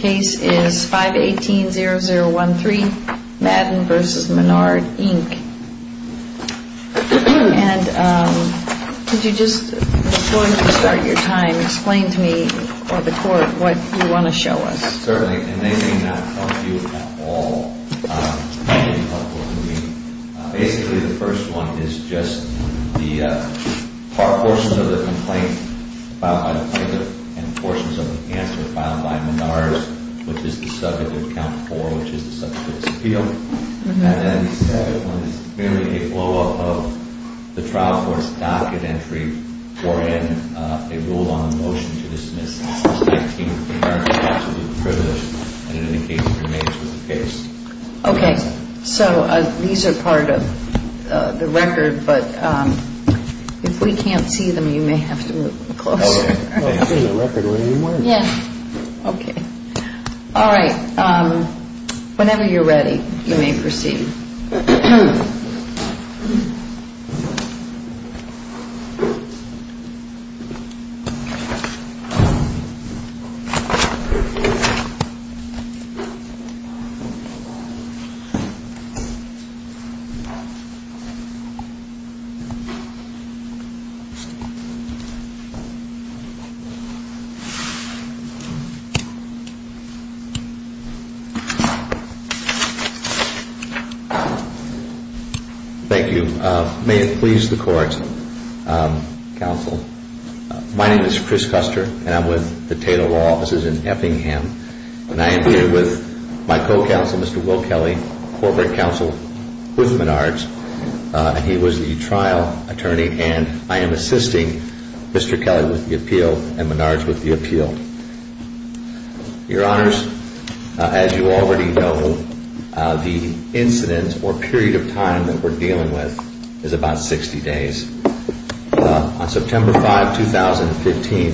And could you just, before you start your time, explain to me or the court what you want to show us? Certainly, and they may not help you at all. Basically, the first one is just the part, portions of the complaint filed by the plaintiff and portions of the answer filed by Menard. Which is the subject of count four, which is the subject of this appeal. And then the second one is merely a blow-up of the trial court's docket entry or in a rule on the motion to dismiss. Okay, so these are part of the record, but if we can't see them, you may have to move them closer. All right, whenever you're ready, you may proceed. Thank you. May it please the court, counsel, my name is Chris Custer, and I'm with the Taylor Law Offices in Effingham, and I am here with my co-counsel, Mr. Will Kelly, corporate counsel with Menard's. He was the trial attorney, and I am assisting Mr. Kelly with the appeal and Menard's with the appeal. Your honors, as you already know, the incident or period of time that we're dealing with is about 60 days. On September 5, 2015,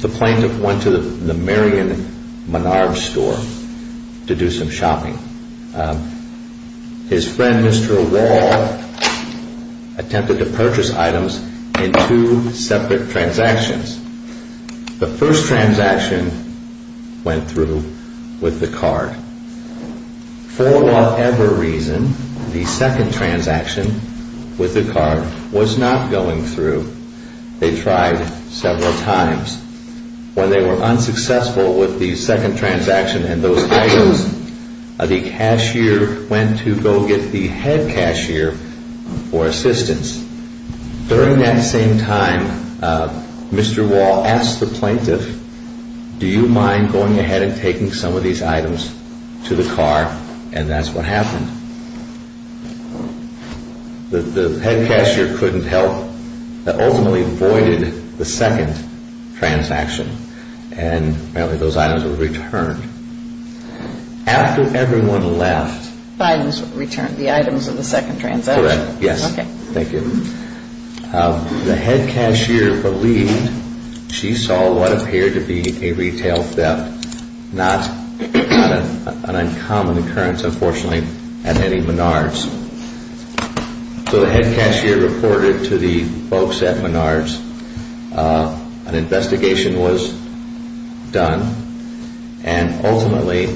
the plaintiff went to the Marion Menard store to do some shopping. His friend, Mr. Wall, attempted to purchase items in two separate transactions. The first transaction went through with the card. For whatever reason, the second transaction with the card was not going through. They tried several times. When they were unsuccessful with the second transaction and those items, the cashier went to go get the head cashier for assistance. During that same time, Mr. Wall asked the plaintiff, do you mind going ahead and taking some of these items to the car? And that's what happened. The head cashier couldn't help but ultimately voided the second transaction, and apparently those items were returned. After everyone left, the head cashier believed she saw what appeared to be a retail theft, not an uncommon occurrence, unfortunately, at any Menard's. So the head cashier reported to the folks at Menard's. An investigation was done, and ultimately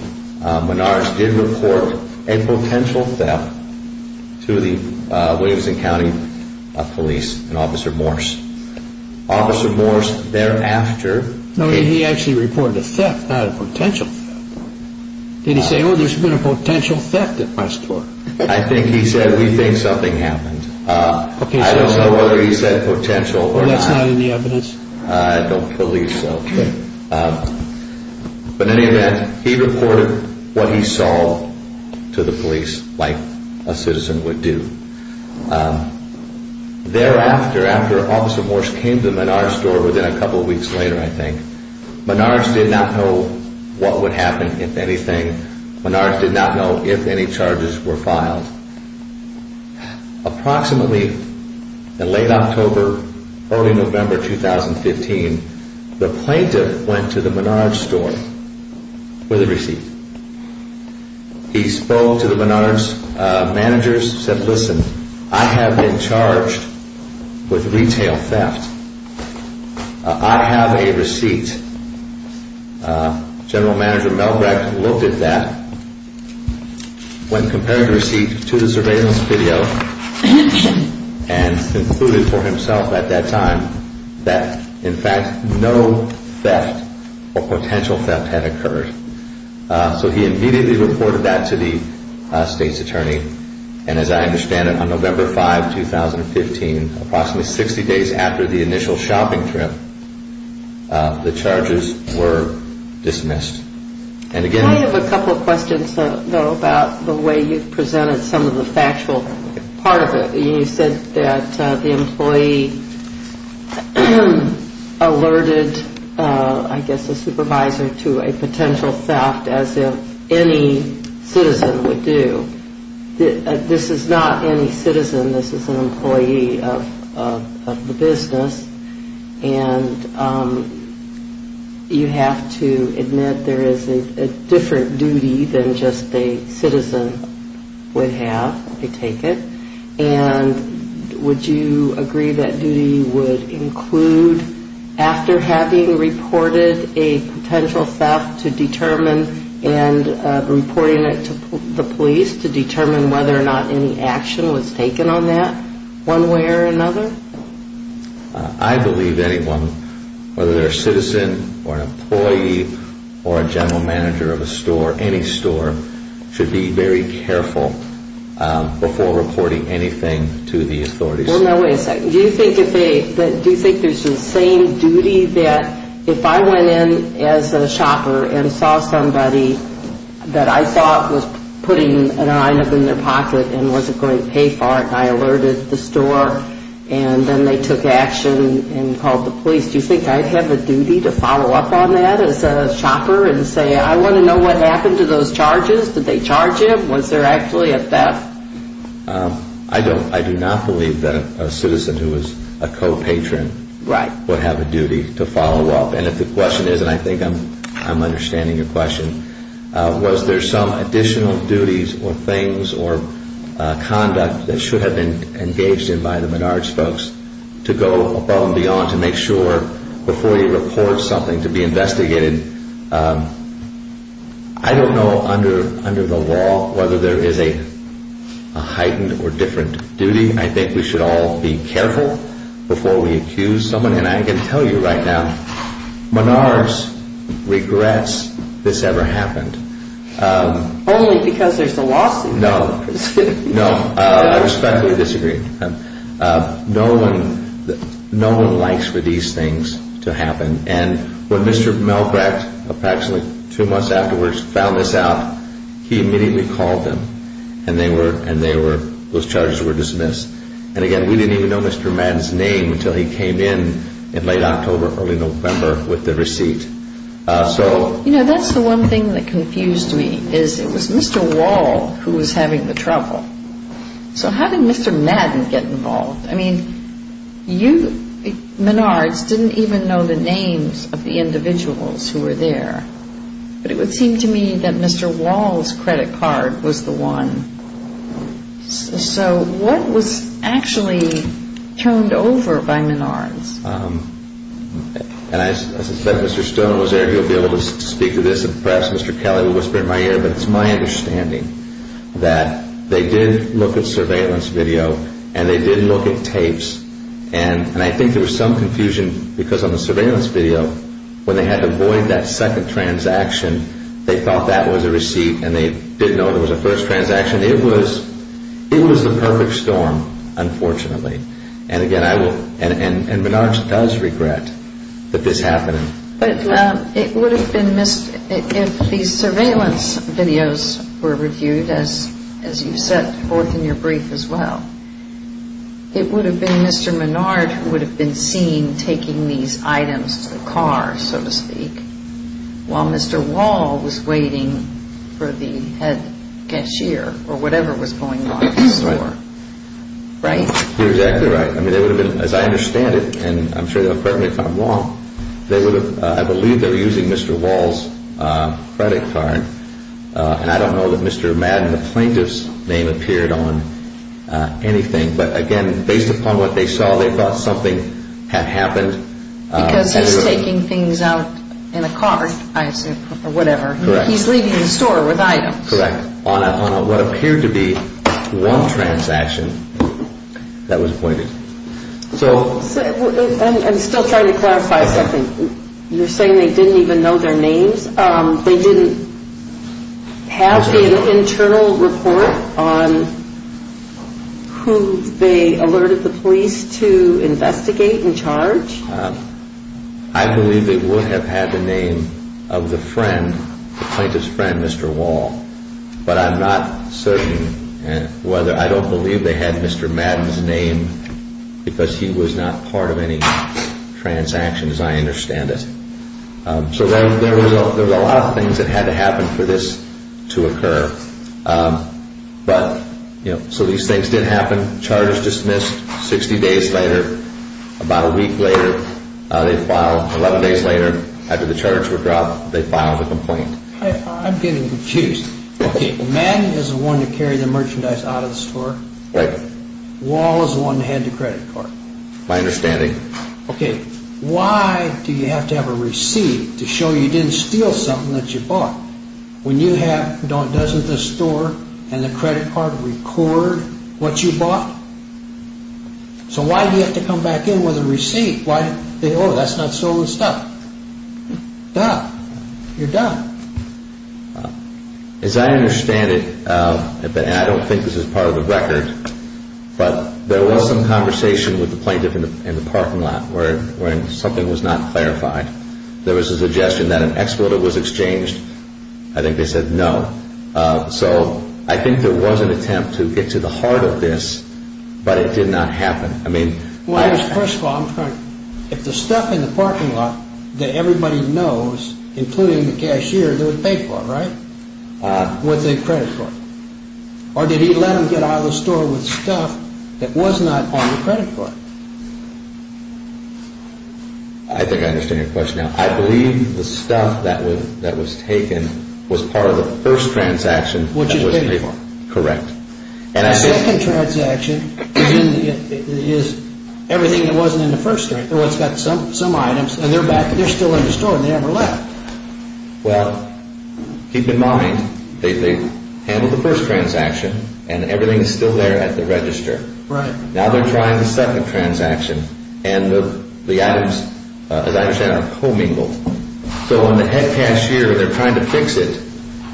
Menard's did report a potential theft to the Williamson County Police and Officer Morse. Officer Morse thereafter... No, he actually reported a theft, not a potential theft. Did he say, oh, there's been a potential theft at my store? I think he said, we think something happened. I don't know whether he said potential or not. That's not in the evidence. I don't believe so. But in any event, he reported what he saw to the police like a citizen would do. Thereafter, after Officer Morse came to Menard's store within a couple of weeks later, I think, Menard's did not know what would happen, if anything. Menard's did not know if any charges were filed. Approximately in late October, early November 2015, the plaintiff went to the Menard's store with a receipt. He spoke to the Menard's managers, said, listen, I have been charged with retail theft. I have a receipt. General Manager Melbrecht looked at that. When compared the receipt to the surveillance video and concluded for himself at that time that, in fact, no theft or potential theft had occurred. So he immediately reported that to the state's attorney. And as I understand it, on November 5, 2015, approximately 60 days after the initial shopping trip, the charges were dismissed. I have a couple of questions, though, about the way you presented some of the factual part of it. You said that the employee alerted, I guess, a supervisor to a potential theft as if any citizen would do. This is not any citizen. This is an employee of the business. And you have to admit there is a different duty than just a citizen would have, I take it. And would you agree that duty would include after having reported a potential theft to determine and reporting it to the police to determine whether or not any action was taken on that one way or another? I believe anyone, whether they're a citizen or an employee or a general manager of a store, any store, should be very careful before reporting anything to the authorities. Do you think there's the same duty that if I went in as a shopper and saw somebody that I thought was putting an item in their pocket and wasn't going to pay for it and I alerted the store and then they took action and called the police, do you think I'd have a duty to follow up on that as a shopper and say, I want to know what happened to those charges? Did they charge him? Was there actually a theft? I do not believe that a citizen who is a co-patron would have a duty to follow up. And if the question is, and I think I'm understanding your question, was there some additional duties or things or conduct that should have been engaged in by the Menards folks to go above and beyond to make sure before you report something to be investigated, I don't know under the law whether there is a heightened or different duty. I think we should all be careful before we accuse someone. And I can tell you right now, Menards regrets this ever happened. Only because there's a lawsuit. No, I respectfully disagree. No one likes for these things to happen. And when Mr. Melbrecht, approximately two months afterwards, found this out, he immediately called them and they were, those charges were dismissed. And again, we didn't even know Mr. Madden's name until he came in in late October, early November with the receipt. You know, that's the one thing that confused me, is it was Mr. Wall who was having the trouble. So how did Mr. Madden get involved? I mean, you, Menards, didn't even know the names of the individuals who were there. But it would seem to me that Mr. Wall's credit card was the one. So what was actually turned over by Menards? And I suspect Mr. Stone was there. He'll be able to speak to this and perhaps Mr. Kelly will whisper in my ear. But it's my understanding that they did look at surveillance video and they did look at tapes. And I think there was some confusion because on the surveillance video, when they had to void that second transaction, they thought that was a receipt and they didn't know it was a first transaction. It was the perfect storm, unfortunately. And again, I will, and Menards does regret that this happened. But it would have been, if these surveillance videos were reviewed, as you said both in your brief as well, it would have been Mr. Menards who would have been seen taking these items to the car, so to speak, while Mr. Wall was waiting for the head cashier or whatever was going on in the store. Right? You're exactly right. As I understand it, and I'm sure they'll correct me if I'm wrong, I believe they were using Mr. Wall's credit card. And I don't know that Mr. Madden, the plaintiff's name, appeared on anything. But again, based upon what they saw, they thought something had happened. Because he's taking things out in a car or whatever. Correct. He's leaving the store with items. Correct. On what appeared to be one transaction that was pointed. I'm still trying to clarify something. You're saying they didn't even know their names? They didn't have an internal report on who they alerted the police to investigate and charge? I believe they would have had the name of the friend, the plaintiff's friend, Mr. Wall. But I'm not certain whether, I don't believe they had Mr. Madden's name because he was not part of any transactions, as I understand it. So there was a lot of things that had to happen for this to occur. But, you know, so these things did happen. Charges dismissed 60 days later. About a week later, they filed, 11 days later, after the charges were dropped, they filed a complaint. I'm getting confused. Okay, Madden is the one that carried the merchandise out of the store? Right. Wall is the one that had the credit card? My understanding. Okay, why do you have to have a receipt to show you didn't steal something that you bought when you have dozens of stores and the credit card would record what you bought? So why do you have to come back in with a receipt? Why, oh, that's not stolen stuff. Duh. You're done. As I understand it, and I don't think this is part of the record, but there was some conversation with the plaintiff in the parking lot where something was not clarified. There was a suggestion that an expletive was exchanged. I think they said no. So I think there was an attempt to get to the heart of this, but it did not happen. Well, first of all, if the stuff in the parking lot that everybody knows, including the cashier, they would pay for it, right, with the credit card? Or did he let them get out of the store with stuff that was not on the credit card? I think I understand your question now. I believe the stuff that was taken was part of the first transaction. Which was paid for. Correct. The second transaction is everything that wasn't in the first transaction. In other words, it's got some items, and they're back, they're still in the store, and they never left. Well, keep in mind, they handled the first transaction, and everything is still there at the register. Right. Now they're trying the second transaction, and the items, as I understand, are commingled. So when the head cashier, they're trying to fix it,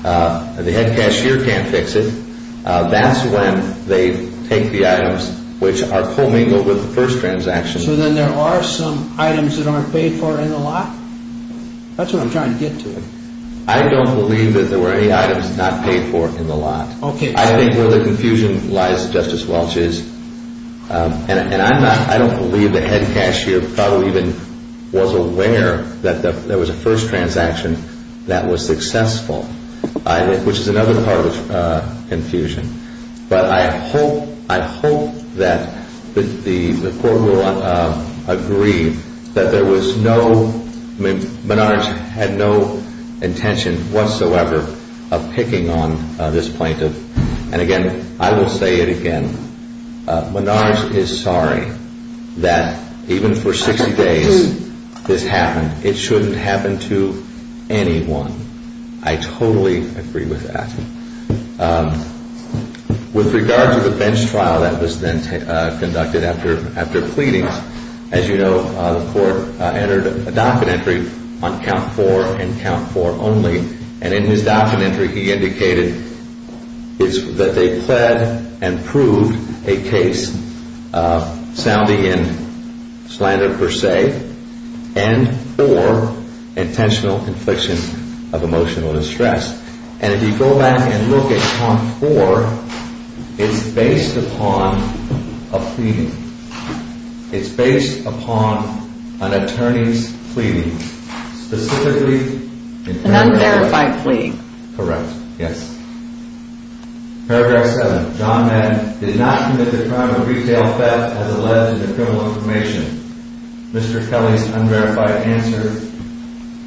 and the head cashier can't fix it, that's when they take the items which are commingled with the first transaction. So then there are some items that aren't paid for in the lot? That's what I'm trying to get to. I don't believe that there were any items not paid for in the lot. Okay. I think where the confusion lies, Justice Welch, is, and I don't believe the head cashier probably even was aware that there was a first transaction that was successful. Which is another part of the confusion. But I hope that the court will agree that there was no, Menard had no intention whatsoever of picking on this plaintiff. And again, I will say it again, Menard is sorry that even for 60 days this happened. It shouldn't happen to anyone. I totally agree with that. With regard to the bench trial that was then conducted after pleadings, as you know, the court entered a docket entry on count four and count four only, and in his docket entry he indicated that they pled and proved a case sounding in slander per se, and or intentional infliction of emotional distress. And if you go back and look at count four, it's based upon a pleading. It's based upon an attorney's pleading. Specifically... An unverified plea. Correct. Yes. Paragraph 7. John Men did not commit the crime of retail theft as alleged in the criminal information. Mr. Kelly's unverified answer,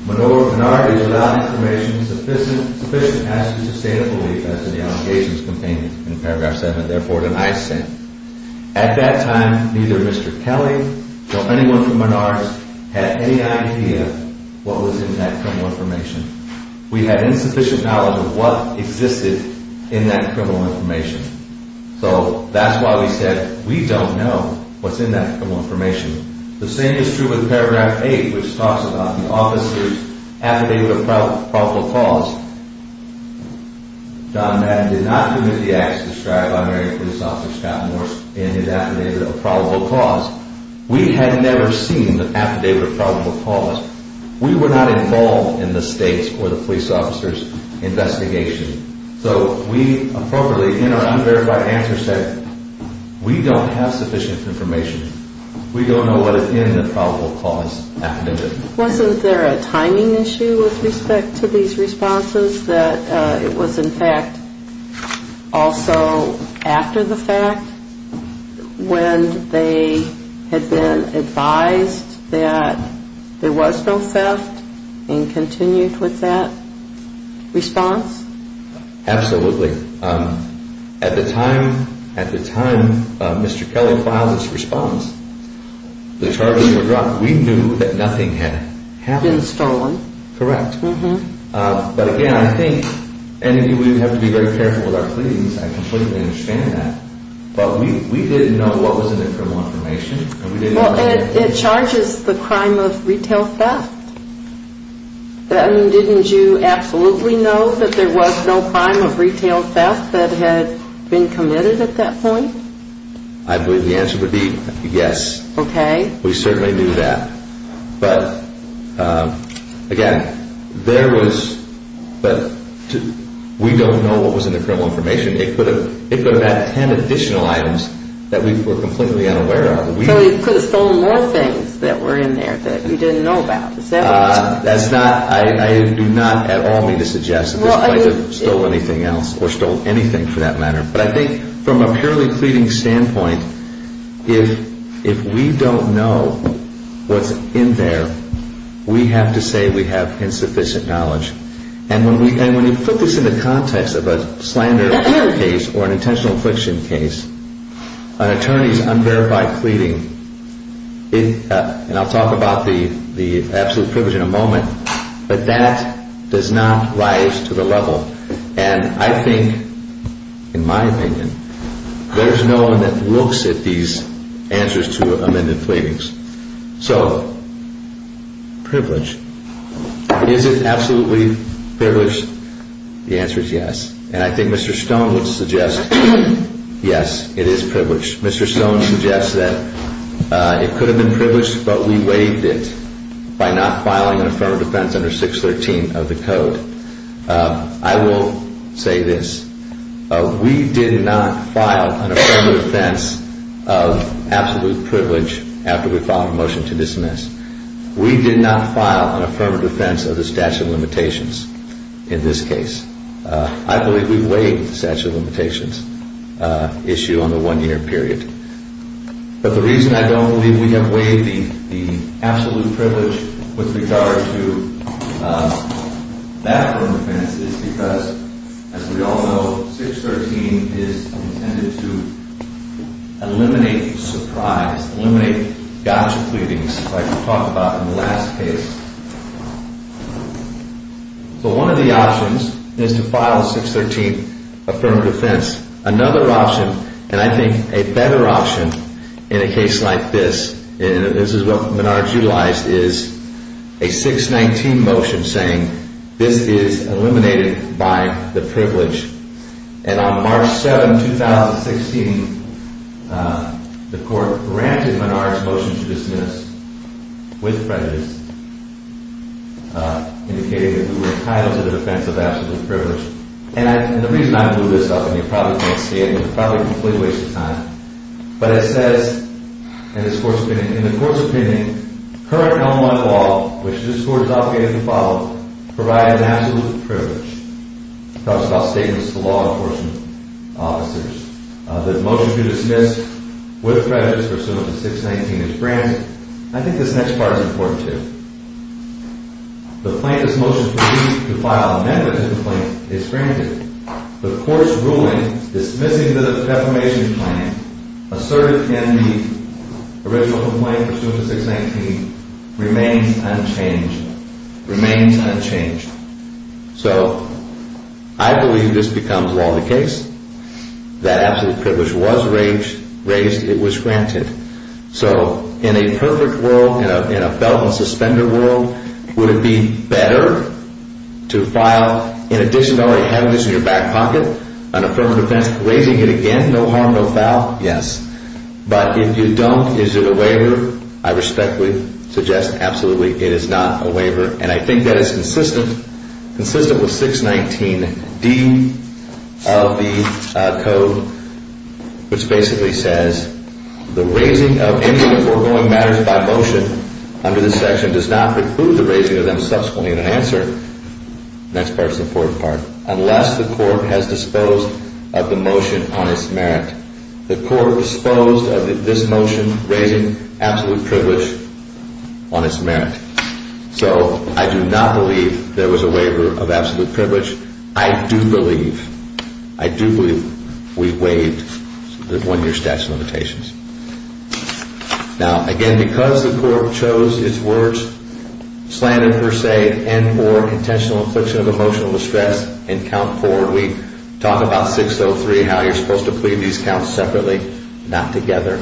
Menard is without information sufficient as to sustain a belief as to the allegations contained in paragraph 7. Therefore, tonight's sentence. At that time, neither Mr. Kelly nor anyone from Menard's had any idea what was in that criminal information. We had insufficient knowledge of what existed in that criminal information. So that's why we said we don't know what's in that criminal information. The same is true with paragraph 8, which talks about the officer's affidavit of probable cause. John Men did not commit the acts described by Mary Police Officer Scott Moore in his affidavit of probable cause. We had never seen the affidavit of probable cause. We were not involved in the state's or the police officer's investigation. So we appropriately, in our unverified answer, said we don't have sufficient information. We don't know what is in the probable cause affidavit. Wasn't there a timing issue with respect to these responses that it was in fact also after the fact when they had been advised that there was no theft and continued with that response? Absolutely. Absolutely. At the time Mr. Kelly filed his response, the charges were dropped. We knew that nothing had happened. Been stolen. Correct. But again, I think, and we have to be very careful with our pleadings. I completely understand that. But we didn't know what was in the criminal information. It charges the crime of retail theft. Didn't you absolutely know that there was no crime of retail theft that had been committed at that point? I believe the answer would be yes. Okay. We certainly knew that. But again, there was, we don't know what was in the criminal information. It could have had 10 additional items that we were completely unaware of. So you could have stolen more things that were in there that you didn't know about. Is that what you're saying? That's not, I do not at all mean to suggest that this might have stolen anything else or stolen anything for that matter. But I think from a purely pleading standpoint, if we don't know what's in there, we have to say we have insufficient knowledge. And when you put this in the context of a slander case or an intentional infliction case, an attorney's unverified pleading, and I'll talk about the absolute privilege in a moment, but that does not rise to the level. And I think, in my opinion, there's no one that looks at these answers to amended pleadings. So privilege, is it absolutely privileged? The answer is yes. And I think Mr. Stone would suggest yes, it is privileged. Mr. Stone suggests that it could have been privileged, but we waived it by not filing an affirmative defense under 613 of the code. I will say this. We did not file an affirmative defense of absolute privilege after we filed a motion to dismiss. We did not file an affirmative defense of the statute of limitations in this case. I believe we waived the statute of limitations issue on the one-year period. But the reason I don't believe we have waived the absolute privilege with regard to that affirmative defense is because, as we all know, 613 is intended to eliminate surprise, eliminate gotcha pleadings like we talked about in the last case. So one of the options is to file a 613 affirmative defense. Another option, and I think a better option in a case like this, and this is what Menard's utilized, is a 619 motion saying this is eliminated by the privilege. And on March 7, 2016, the court granted Menard's motion to dismiss with prejudice, indicating that we were entitled to the defense of absolute privilege. And the reason I blew this up, and you probably can't see it, and it's probably a complete waste of time, but it says in the court's opinion, current Elmwood law, which this court is obligated to follow, provides absolute privilege. It talks about statements to law enforcement officers. The motion to dismiss with prejudice pursuant to 619 is granted. I think this next part is important, too. The plaintiff's motion to file an amendment to the complaint is granted. The court's ruling dismissing the defamation claim asserted in the original complaint pursuant to 619 remains unchanged. Remains unchanged. So I believe this becomes law in the case. That absolute privilege was raised. It was granted. So in a perfect world, in a felt-and-suspender world, would it be better to file, in addition to already having this in your back pocket, an affirmative defense raising it again, no harm, no foul? Yes. But if you don't, is it a waiver? And I think that is consistent with 619D of the code, which basically says, the raising of any of the foregoing matters by motion under this section does not preclude the raising of them subsequently in an answer. The next part is the important part. Unless the court has disposed of the motion on its merit. The court disposed of this motion raising absolute privilege on its merit. So I do not believe there was a waiver of absolute privilege. I do believe. I do believe we waived the one-year statute of limitations. Now, again, because the court chose its words, slander per se and or intentional infliction of emotional distress in count four, we talk about 603, how you're supposed to plead these counts separately, not together.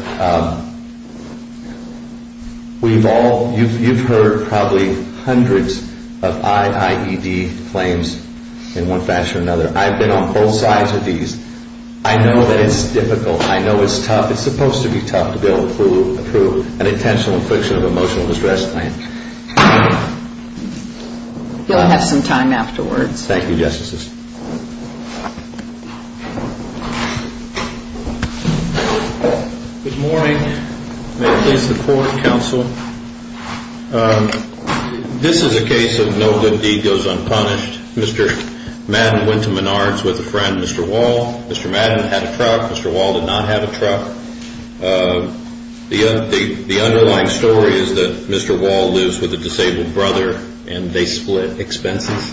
We've all, you've heard probably hundreds of IIED claims in one fashion or another. I've been on both sides of these. I know that it's difficult. I know it's tough. It's supposed to be tough to be able to prove an intentional infliction of emotional distress claim. You'll have some time afterwards. Thank you, Justices. Good morning. May it please the court, counsel. This is a case of no good deed goes unpunished. Mr. Madden went to Menards with a friend, Mr. Wall. Mr. Madden had a truck. Mr. Wall did not have a truck. The underlying story is that Mr. Wall lives with a disabled brother, and they split expenses.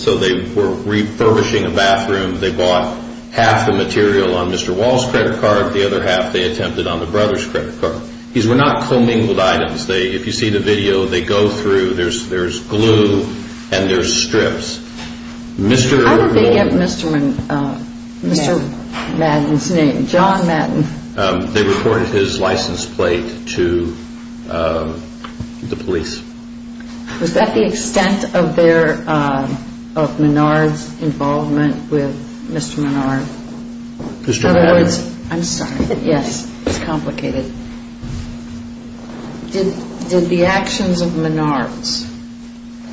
So they were refurbishing a bathroom. They bought half the material on Mr. Wall's credit card, the other half they attempted on the brother's credit card. These were not commingled items. If you see the video, they go through. There's glue and there's strips. How did they get Mr. Madden's name, John Madden? They reported his license plate to the police. Was that the extent of Menards' involvement with Mr. Menard? Mr. Madden? I'm sorry. Yes, it's complicated. Did the actions of Menards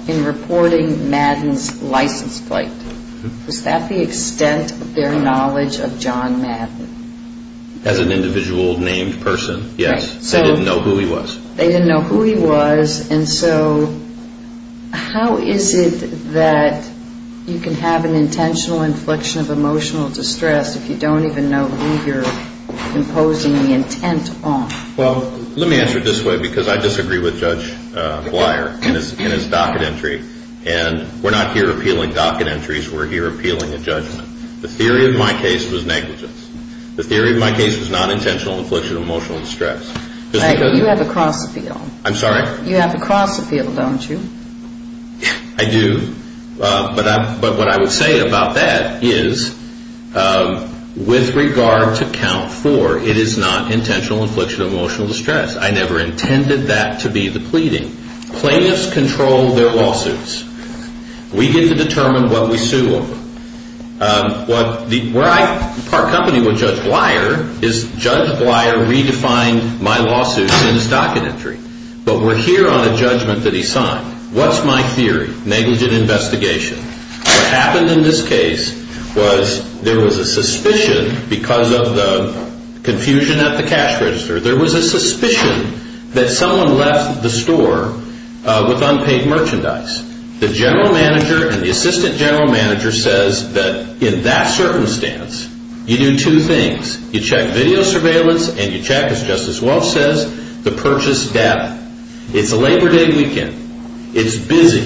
in reporting Madden's license plate, was that the extent of their knowledge of John Madden? As an individual named person, yes. They didn't know who he was. They didn't know who he was, and so how is it that you can have an intentional infliction of emotional distress if you don't even know who you're imposing the intent on? Well, let me answer it this way, because I disagree with Judge Blyer in his docket entry, and we're not here appealing docket entries. We're here appealing a judgment. The theory of my case was negligence. The theory of my case was not intentional infliction of emotional distress. You have a cross appeal. I'm sorry? You have a cross appeal, don't you? I do, but what I would say about that is with regard to count four, it is not intentional infliction of emotional distress. I never intended that to be the pleading. Plaintiffs control their lawsuits. We get to determine what we sue them. Where I part company with Judge Blyer is Judge Blyer redefined my lawsuits in his docket entry, but we're here on a judgment that he signed. What's my theory? Negligent investigation. What happened in this case was there was a suspicion because of the confusion at the cash register. There was a suspicion that someone left the store with unpaid merchandise. The general manager and the assistant general manager says that in that circumstance, you do two things. You check video surveillance and you check, as Justice Welch says, the purchase data. It's a Labor Day weekend. It's busy.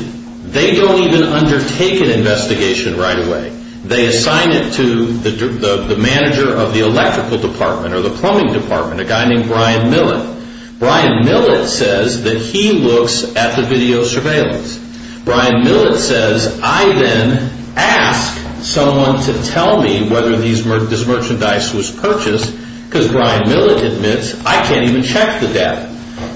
They don't even undertake an investigation right away. They assign it to the manager of the electrical department or the plumbing department, a guy named Brian Millett. Brian Millett says that he looks at the video surveillance. Brian Millett says, I then ask someone to tell me whether this merchandise was purchased, because Brian Millett admits, I can't even check the data.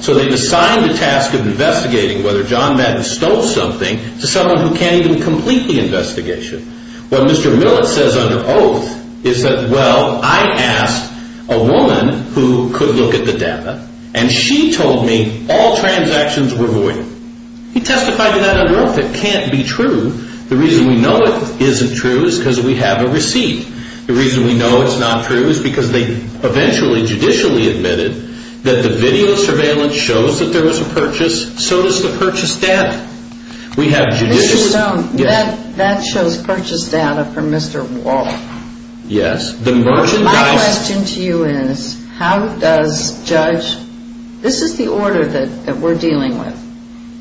So they assign the task of investigating whether John Madden stole something to someone who can't even complete the investigation. What Mr. Millett says under oath is that, well, I asked a woman who could look at the data, and she told me all transactions were void. He testified to that under oath. It can't be true. The reason we know it isn't true is because we have a receipt. The reason we know it's not true is because they eventually judicially admitted that the video surveillance shows that there was a purchase. So does the purchase data. Mr. Stone, that shows purchase data from Mr. Wall. Yes. My question to you is, how does judge, this is the order that we're dealing with.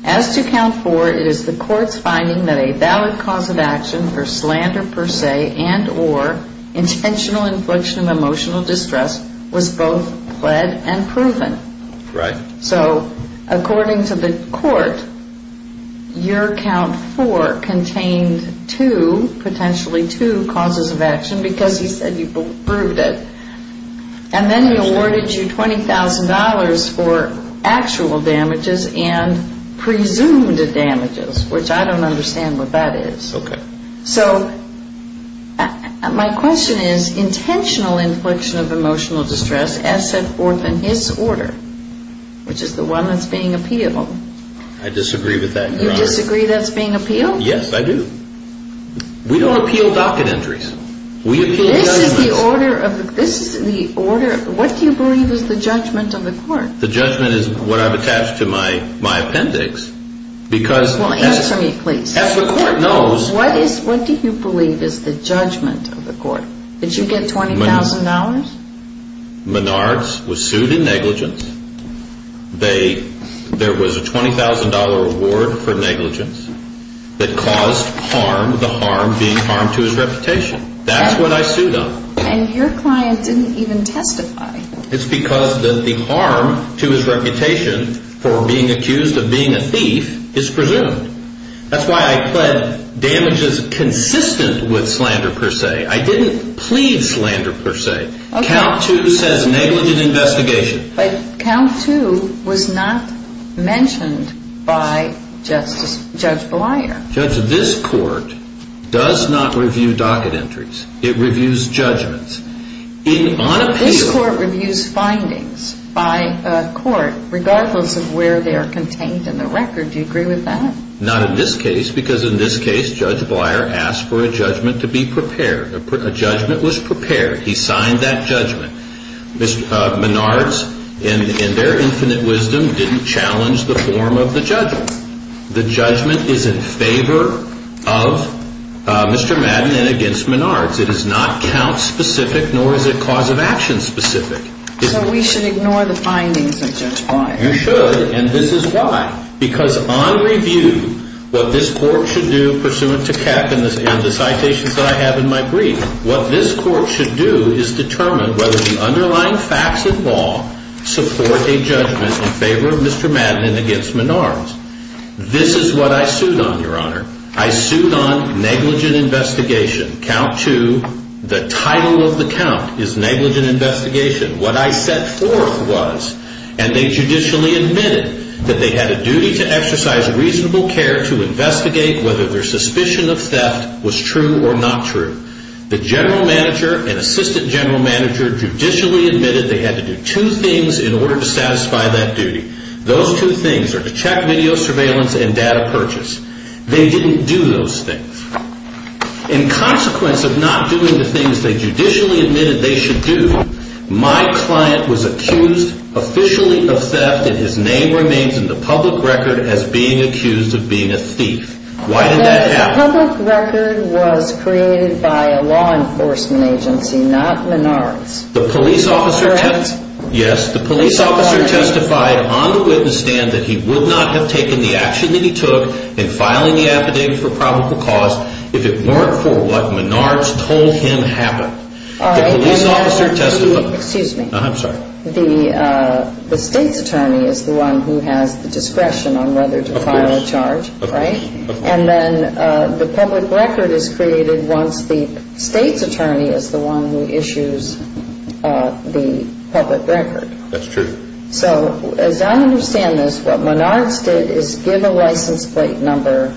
As to count four, it is the court's finding that a valid cause of action for slander per se and or intentional infliction of emotional distress was both pled and proven. Right. So according to the court, your count four contained two, potentially two, causes of action because he said you proved it. And then he awarded you $20,000 for actual damages and presumed damages, which I don't understand what that is. Okay. So my question is intentional infliction of emotional distress as set forth in his order, which is the one that's being appealed. I disagree with that. You disagree that's being appealed? Yes, I do. We don't appeal docket entries. We appeal docket entries. This is the order of, this is the order of, what do you believe is the judgment of the court? The judgment is what I've attached to my appendix because. Well, answer me, please. As the court knows. What is, what do you believe is the judgment of the court? Did you get $20,000? Menards was sued in negligence. They, there was a $20,000 award for negligence that caused harm, the harm being harmed to his reputation. That's what I sued on. And your client didn't even testify. It's because the harm to his reputation for being accused of being a thief is presumed. That's why I pled damages consistent with slander per se. I didn't plead slander per se. Okay. Count two says negligent investigation. But count two was not mentioned by Justice, Judge Bleyer. Judge, this court does not review docket entries. It reviews judgments. This court reviews findings by a court regardless of where they are contained in the record. Do you agree with that? Not in this case, because in this case, Judge Bleyer asked for a judgment to be prepared. A judgment was prepared. He signed that judgment. Menards, in their infinite wisdom, didn't challenge the form of the judgment. The judgment is in favor of Mr. Madden and against Menards. It is not count specific, nor is it cause of action specific. So we should ignore the findings of Judge Bleyer. You should, and this is why. Because on review, what this court should do, pursuant to Keck and the citations that I have in my brief, what this court should do is determine whether the underlying facts of law support a judgment in favor of Mr. Madden and against Menards. This is what I sued on, Your Honor. I sued on negligent investigation. Count two, the title of the count is negligent investigation. What I set forth was, and they judicially admitted that they had a duty to exercise reasonable care to investigate whether their suspicion of theft was true or not true. The general manager and assistant general manager judicially admitted they had to do two things in order to satisfy that duty. Those two things are to check video surveillance and data purchase. They didn't do those things. In consequence of not doing the things they judicially admitted they should do, my client was accused officially of theft, and his name remains in the public record as being accused of being a thief. Why did that happen? The public record was created by a law enforcement agency, not Menards. Correct. Yes, the police officer testified on the witness stand that he would not have taken the action that he took in filing the affidavit for probable cause if it weren't for what Menards told him happened. The police officer testified. Excuse me. I'm sorry. The state's attorney is the one who has the discretion on whether to file a charge, right? Of course. And then the public record is created once the state's attorney is the one who issues the public record. That's true. So as I understand this, what Menards did is give a license plate number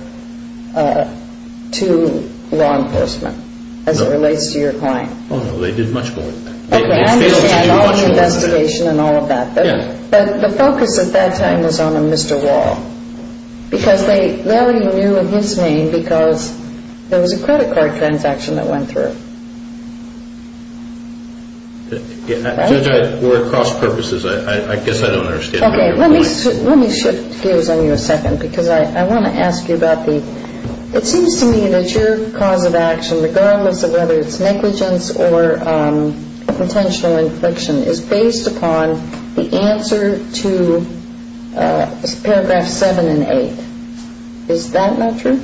to law enforcement as it relates to your client. No, they did much more than that. Okay, I understand all the investigation and all of that, but the focus at that time was on a Mr. Wall. Because they rarely knew his name because there was a credit card transaction that went through. Judge, we're at cross purposes. I guess I don't understand. Okay, let me shift gears on you a second because I want to ask you about the – regardless of whether it's negligence or a potential infliction is based upon the answer to paragraph seven and eight. Is that not true?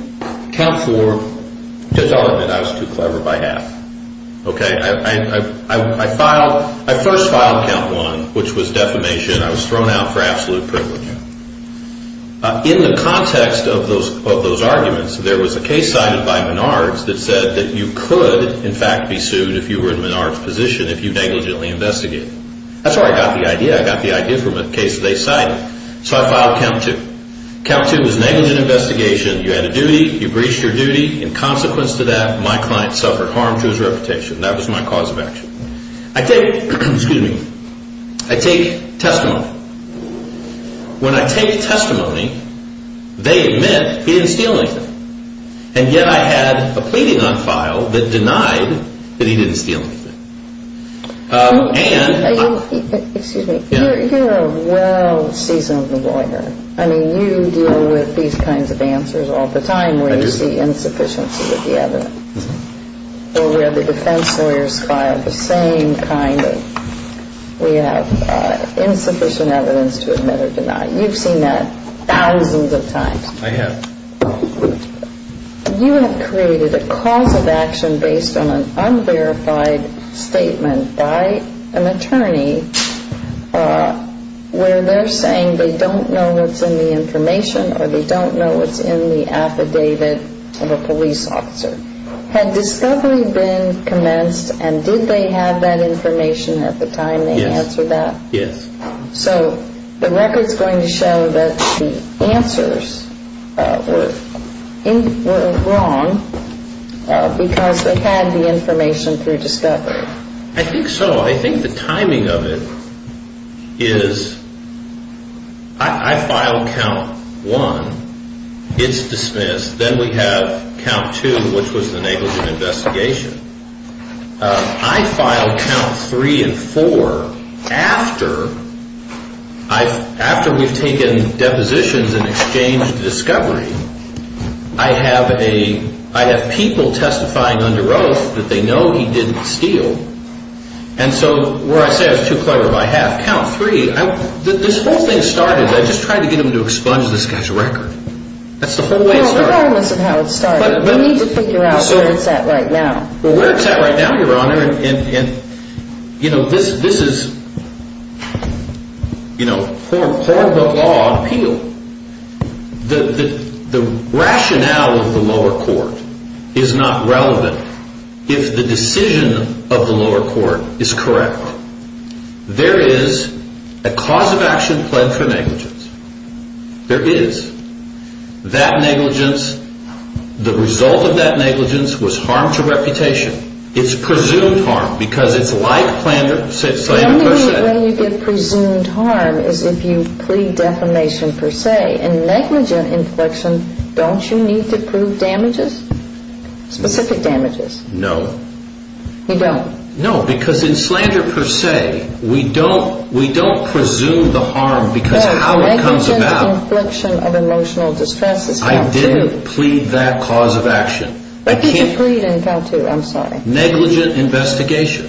Count four – Judge Alderman, I was too clever by half. Okay, I filed – I first filed count one, which was defamation. I was thrown out for absolute privilege. In the context of those arguments, there was a case cited by Menards that said that you could, in fact, be sued if you were in Menards' position if you negligently investigated. That's where I got the idea. I got the idea from a case they cited. So I filed count two. Count two was negligent investigation. You had a duty. You breached your duty. In consequence to that, my client suffered harm to his reputation. That was my cause of action. I take – excuse me. I take testimony. When I take testimony, they admit he didn't steal anything. And yet I had a pleading on file that denied that he didn't steal anything. And – Excuse me. You're a well seasoned lawyer. I mean, you deal with these kinds of answers all the time where you see insufficiency with the evidence. Well, we have the defense lawyers file the same kind of – we have insufficient evidence to admit or deny. You've seen that thousands of times. I have. You have created a cause of action based on an unverified statement by an attorney where they're saying they don't know what's in the information or they don't know what's in the affidavit of a police officer. Had discovery been commenced and did they have that information at the time they answered that? Yes. So the record's going to show that the answers were wrong because they had the information through discovery. I think so. I think the timing of it is I filed count one. It's dismissed. Then we have count two, which was the negligent investigation. I filed count three and four after we've taken depositions and exchanged discovery. I have people testifying under oath that they know he didn't steal. And so where I say I was too clever by half, count three, this whole thing started – I just tried to get them to expunge this guy's record. That's the whole way it started. Well, regardless of how it started. We need to figure out where it's at right now. Where it's at right now, Your Honor, and, you know, this is, you know, horrible law of appeal. The rationale of the lower court is not relevant if the decision of the lower court is correct. There is a cause of action plead for negligence. There is. That negligence, the result of that negligence was harm to reputation. It's presumed harm because it's like slander per se. The only way you get presumed harm is if you plead defamation per se. In negligent infliction, don't you need to prove damages, specific damages? No. You don't? No, because in slander per se, we don't presume the harm because how it comes about. No, negligent infliction of emotional distress is count two. I did plead that cause of action. I think you plead in count two. I'm sorry. Negligent investigation,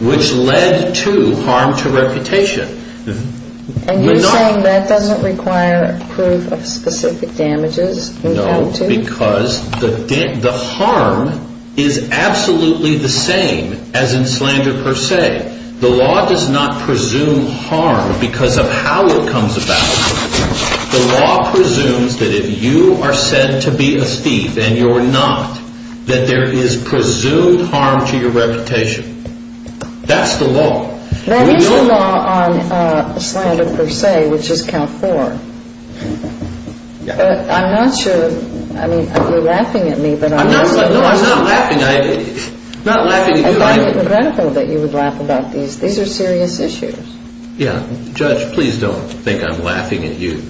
which led to harm to reputation. And you're saying that doesn't require a proof of specific damages in count two? No, because the harm is absolutely the same as in slander per se. The law does not presume harm because of how it comes about. The law presumes that if you are said to be a thief and you're not, that there is presumed harm to your reputation. That's the law. That is the law on slander per se, which is count four. I'm not sure. I mean, you're laughing at me, but I'm not. No, I'm not laughing. I'm not laughing at you. I find it incredible that you would laugh about these. These are serious issues. Yeah. Judge, please don't think I'm laughing at you.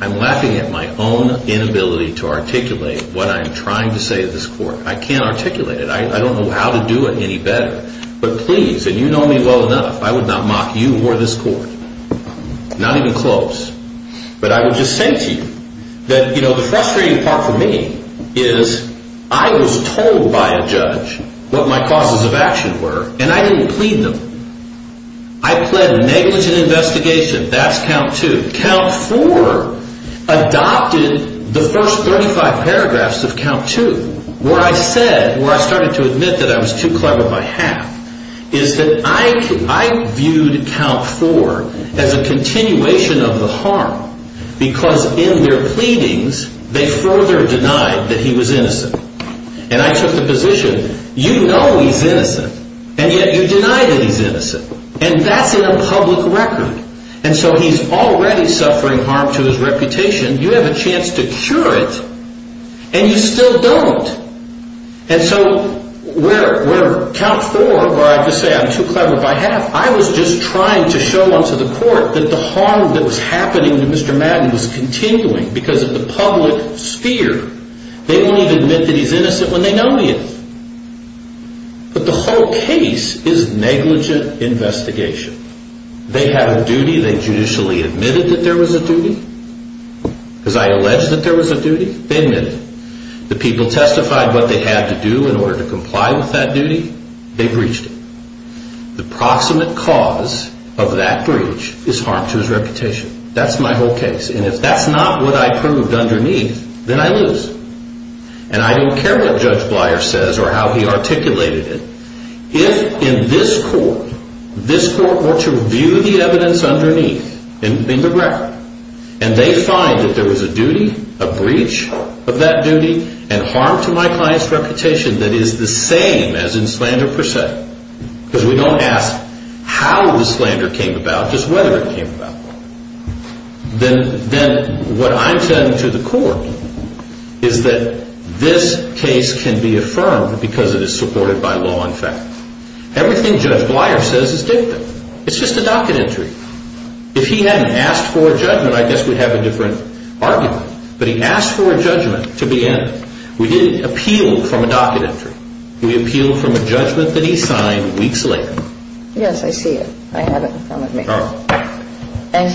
I'm laughing at my own inability to articulate what I'm trying to say to this court. I can't articulate it. I don't know how to do it any better. But please, and you know me well enough, I would not mock you or this court. Not even close. But I would just say to you that, you know, the frustrating part for me is I was told by a judge what my causes of action were, and I didn't plead them. I pled negligent investigation. That's count two. Count four adopted the first 35 paragraphs of count two, where I said, where I started to admit that I was too clever by half, is that I viewed count four as a continuation of the harm, because in their pleadings, they further denied that he was innocent. And I took the position, you know he's innocent, and yet you deny that he's innocent. And that's in a public record. And so he's already suffering harm to his reputation. You have a chance to cure it, and you still don't. And so where count four, where I have to say I'm too clever by half, I was just trying to show unto the court that the harm that was happening to Mr. Madden was continuing because of the public sphere. They won't even admit that he's innocent when they know he is. But the whole case is negligent investigation. They have a duty. They judicially admitted that there was a duty. Because I alleged that there was a duty, they admitted it. The people testified what they had to do in order to comply with that duty, they breached it. The proximate cause of that breach is harm to his reputation. That's my whole case. And if that's not what I proved underneath, then I lose. And I don't care what Judge Bleier says or how he articulated it. If in this court, this court were to review the evidence underneath in the record, and they find that there was a duty, a breach of that duty, and harm to my client's reputation that is the same as in slander per se. Because we don't ask how the slander came about, just whether it came about. Then what I'm telling to the court is that this case can be affirmed because it is supported by law and fact. Everything Judge Bleier says is dictum. It's just a docket entry. If he hadn't asked for a judgment, I guess we'd have a different argument. But he asked for a judgment to begin. We didn't appeal from a docket entry. We appealed from a judgment that he signed weeks later. Yes, I see it. I have it in front of me. And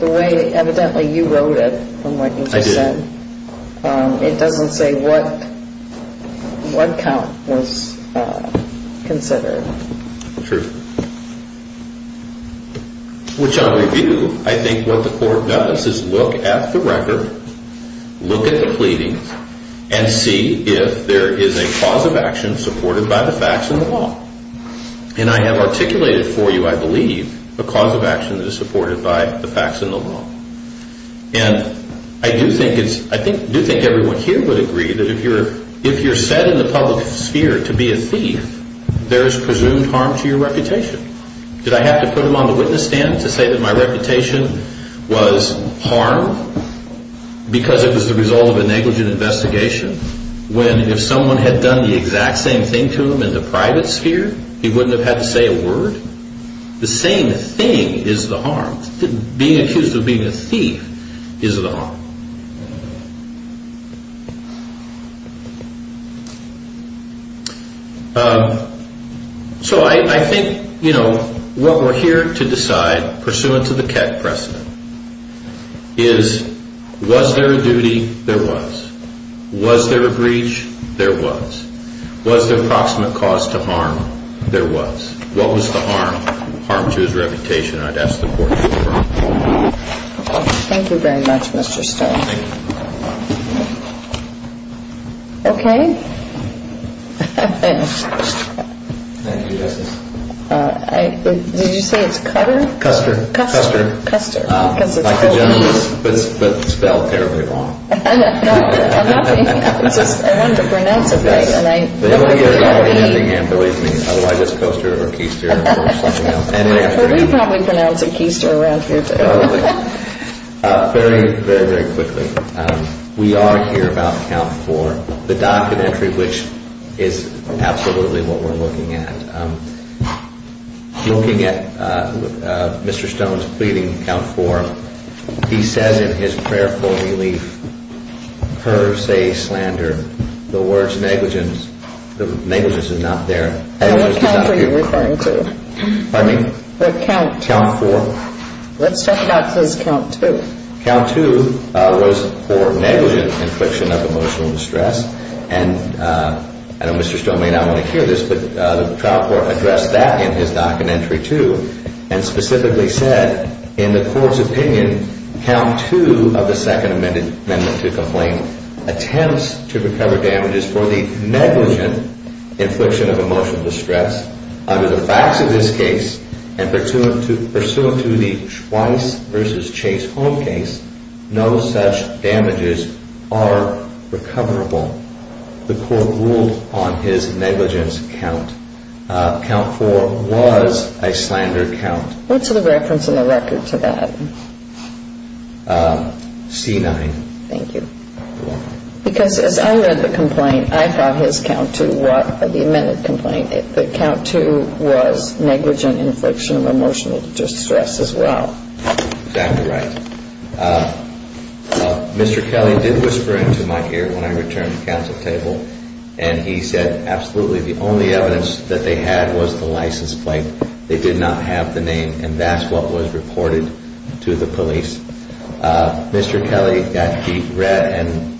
the way evidently you wrote it, from what you just said, it doesn't say what count was considered. True. Which on review, I think what the court does is look at the record, look at the pleadings, and see if there is a cause of action supported by the facts and the law. And I have articulated for you, I believe, a cause of action that is supported by the facts and the law. And I do think everyone here would agree that if you're set in the public sphere to be a thief, there is presumed harm to your reputation. Did I have to put him on the witness stand to say that my reputation was harmed because it was the result of a negligent investigation? When if someone had done the exact same thing to him in the private sphere, he wouldn't have had to say a word? The same thing is the harm. Being accused of being a thief is the harm. So I think, you know, what we're here to decide, pursuant to the Keck precedent, is was there a duty? There was. Was there a breach? There was. Was there a proximate cause to harm? There was. What was the harm? Harm to his reputation, I'd ask the court to confirm. Thank you very much, Mr. Stone. Thank you. Okay. Thank you, Justice. Did you say it's Custer? Custer. Custer. Custer, because it's Custer. But spelled terribly wrong. No, I'm not making it up. It's just I wanted to pronounce it right. Yes. Believe me, otherwise it's Custer or Keister or something else. Well, we probably pronounce it Keister around here, too. Very, very, very quickly. We are here about count four, the documentary which is absolutely what we're looking at. Looking at Mr. Stone's pleading count four, he says in his prayerful relief, per se slander, the words negligence, negligence is not there. What count are you referring to? Pardon me? What count? Count four. Let's talk about his count two. Count two was for negligent infliction of emotional distress, and I know Mr. Stone may not want to hear this, but the trial court addressed that in his documentary, too, and specifically said in the court's opinion, count two of the Second Amendment to complain attempts to recover damages for the negligent infliction of emotional distress under the facts of this case and pursuant to the Schweiss v. Chase home case, no such damages are recoverable. The court ruled on his negligence count. Count four was a slander count. What's the reference in the record to that? C-9. Thank you. Because as I read the complaint, I thought his count two, the amended complaint, the count two was negligent infliction of emotional distress as well. Exactly right. Mr. Kelly did whisper into my ear when I returned the counsel table, and he said absolutely the only evidence that they had was the license plate. They did not have the name, and that's what was reported to the police. Mr. Kelly got deep red, and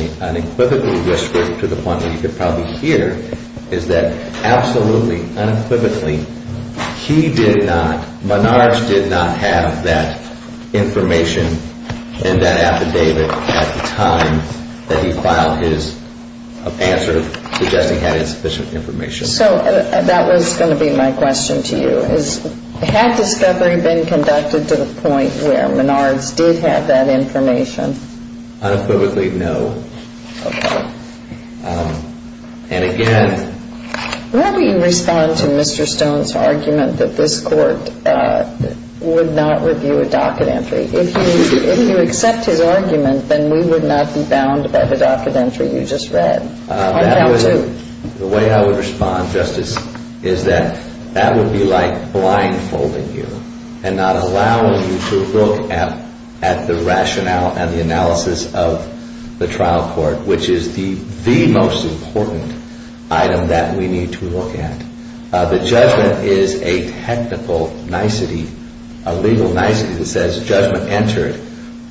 he unequivocally whispered to the point where you could probably hear, is that absolutely unequivocally he did not, Menard did not have that information in that affidavit at the time that he filed his answer suggesting he had insufficient information. So that was going to be my question to you. Had discovery been conducted to the point where Menard did have that information? Unequivocally no. Okay. And again. Where would you respond to Mr. Stone's argument that this court would not review a docket entry? If you accept his argument, then we would not be bound by the docket entry you just read on count two. The way I would respond, Justice, is that that would be like blindfolding you and not allowing you to look at the rationale and the analysis of the trial court, which is the most important item that we need to look at. The judgment is a technical nicety, a legal nicety that says judgment entered,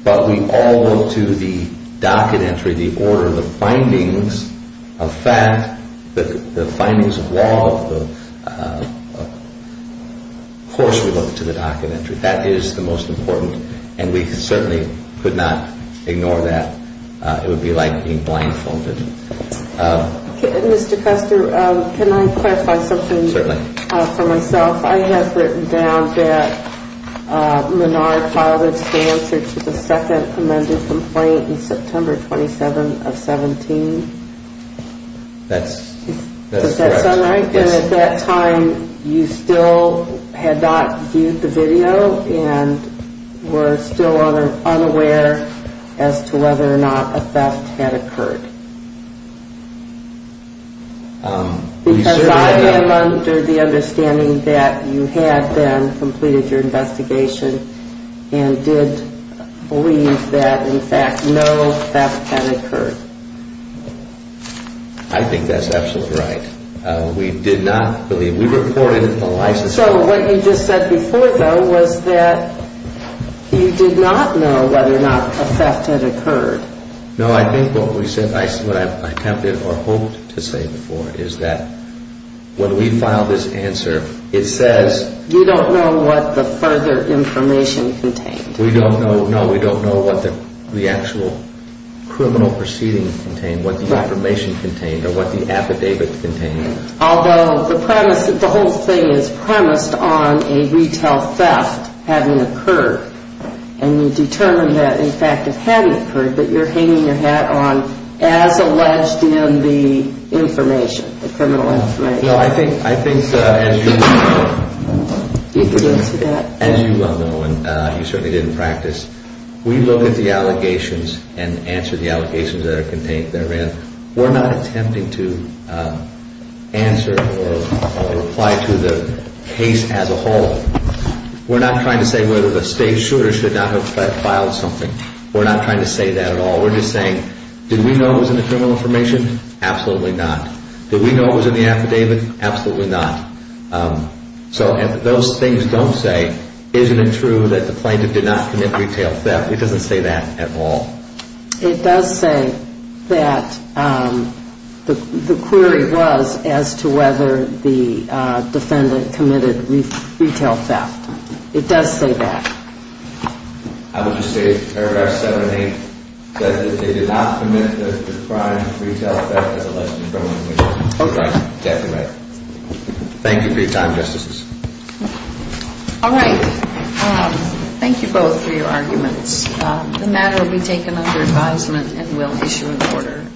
but we all look to the docket entry, the order of the findings of fact, the findings of law, of course we look to the docket entry. That is the most important, and we certainly could not ignore that. It would be like being blindfolded. Mr. Custer, can I clarify something for myself? Certainly. I have written down that Menard filed his answer to the second amended complaint in September 27 of 17. That's correct. Does that sound right? Yes. Because at that time you still had not viewed the video and were still unaware as to whether or not a theft had occurred. Because I am under the understanding that you had then completed your investigation and did believe that in fact no theft had occurred. I think that's absolutely right. We did not believe, we reported a license fraud. So what you just said before, though, was that you did not know whether or not a theft had occurred. No, I think what I attempted or hoped to say before is that when we filed this answer, it says You don't know what the further information contained. No, we don't know what the actual criminal proceeding contained, what the information contained or what the affidavit contained. Although the whole thing is premised on a retail theft having occurred and you determine that in fact it had occurred, but you're hanging your hat on as alleged in the information, the criminal information. No, I think as you well know and you certainly did in practice, we look at the allegations and answer the allegations that are contained therein. We're not attempting to answer or reply to the case as a whole. We're not trying to say whether the state should or should not have filed something. We're not trying to say that at all. We're just saying, did we know it was in the criminal information? Absolutely not. Did we know it was in the affidavit? Absolutely not. So if those things don't say, isn't it true that the plaintiff did not commit retail theft, it doesn't say that at all. It does say that the query was as to whether the defendant committed retail theft. It does say that. I would just say paragraph 7-8 says that they did not commit the crime of retail theft as alleged in criminal information. Okay. Exactly right. Thank you for your time, Justices. All right. Thank you both for your arguments. The matter will be taken under advisement and we'll issue an order.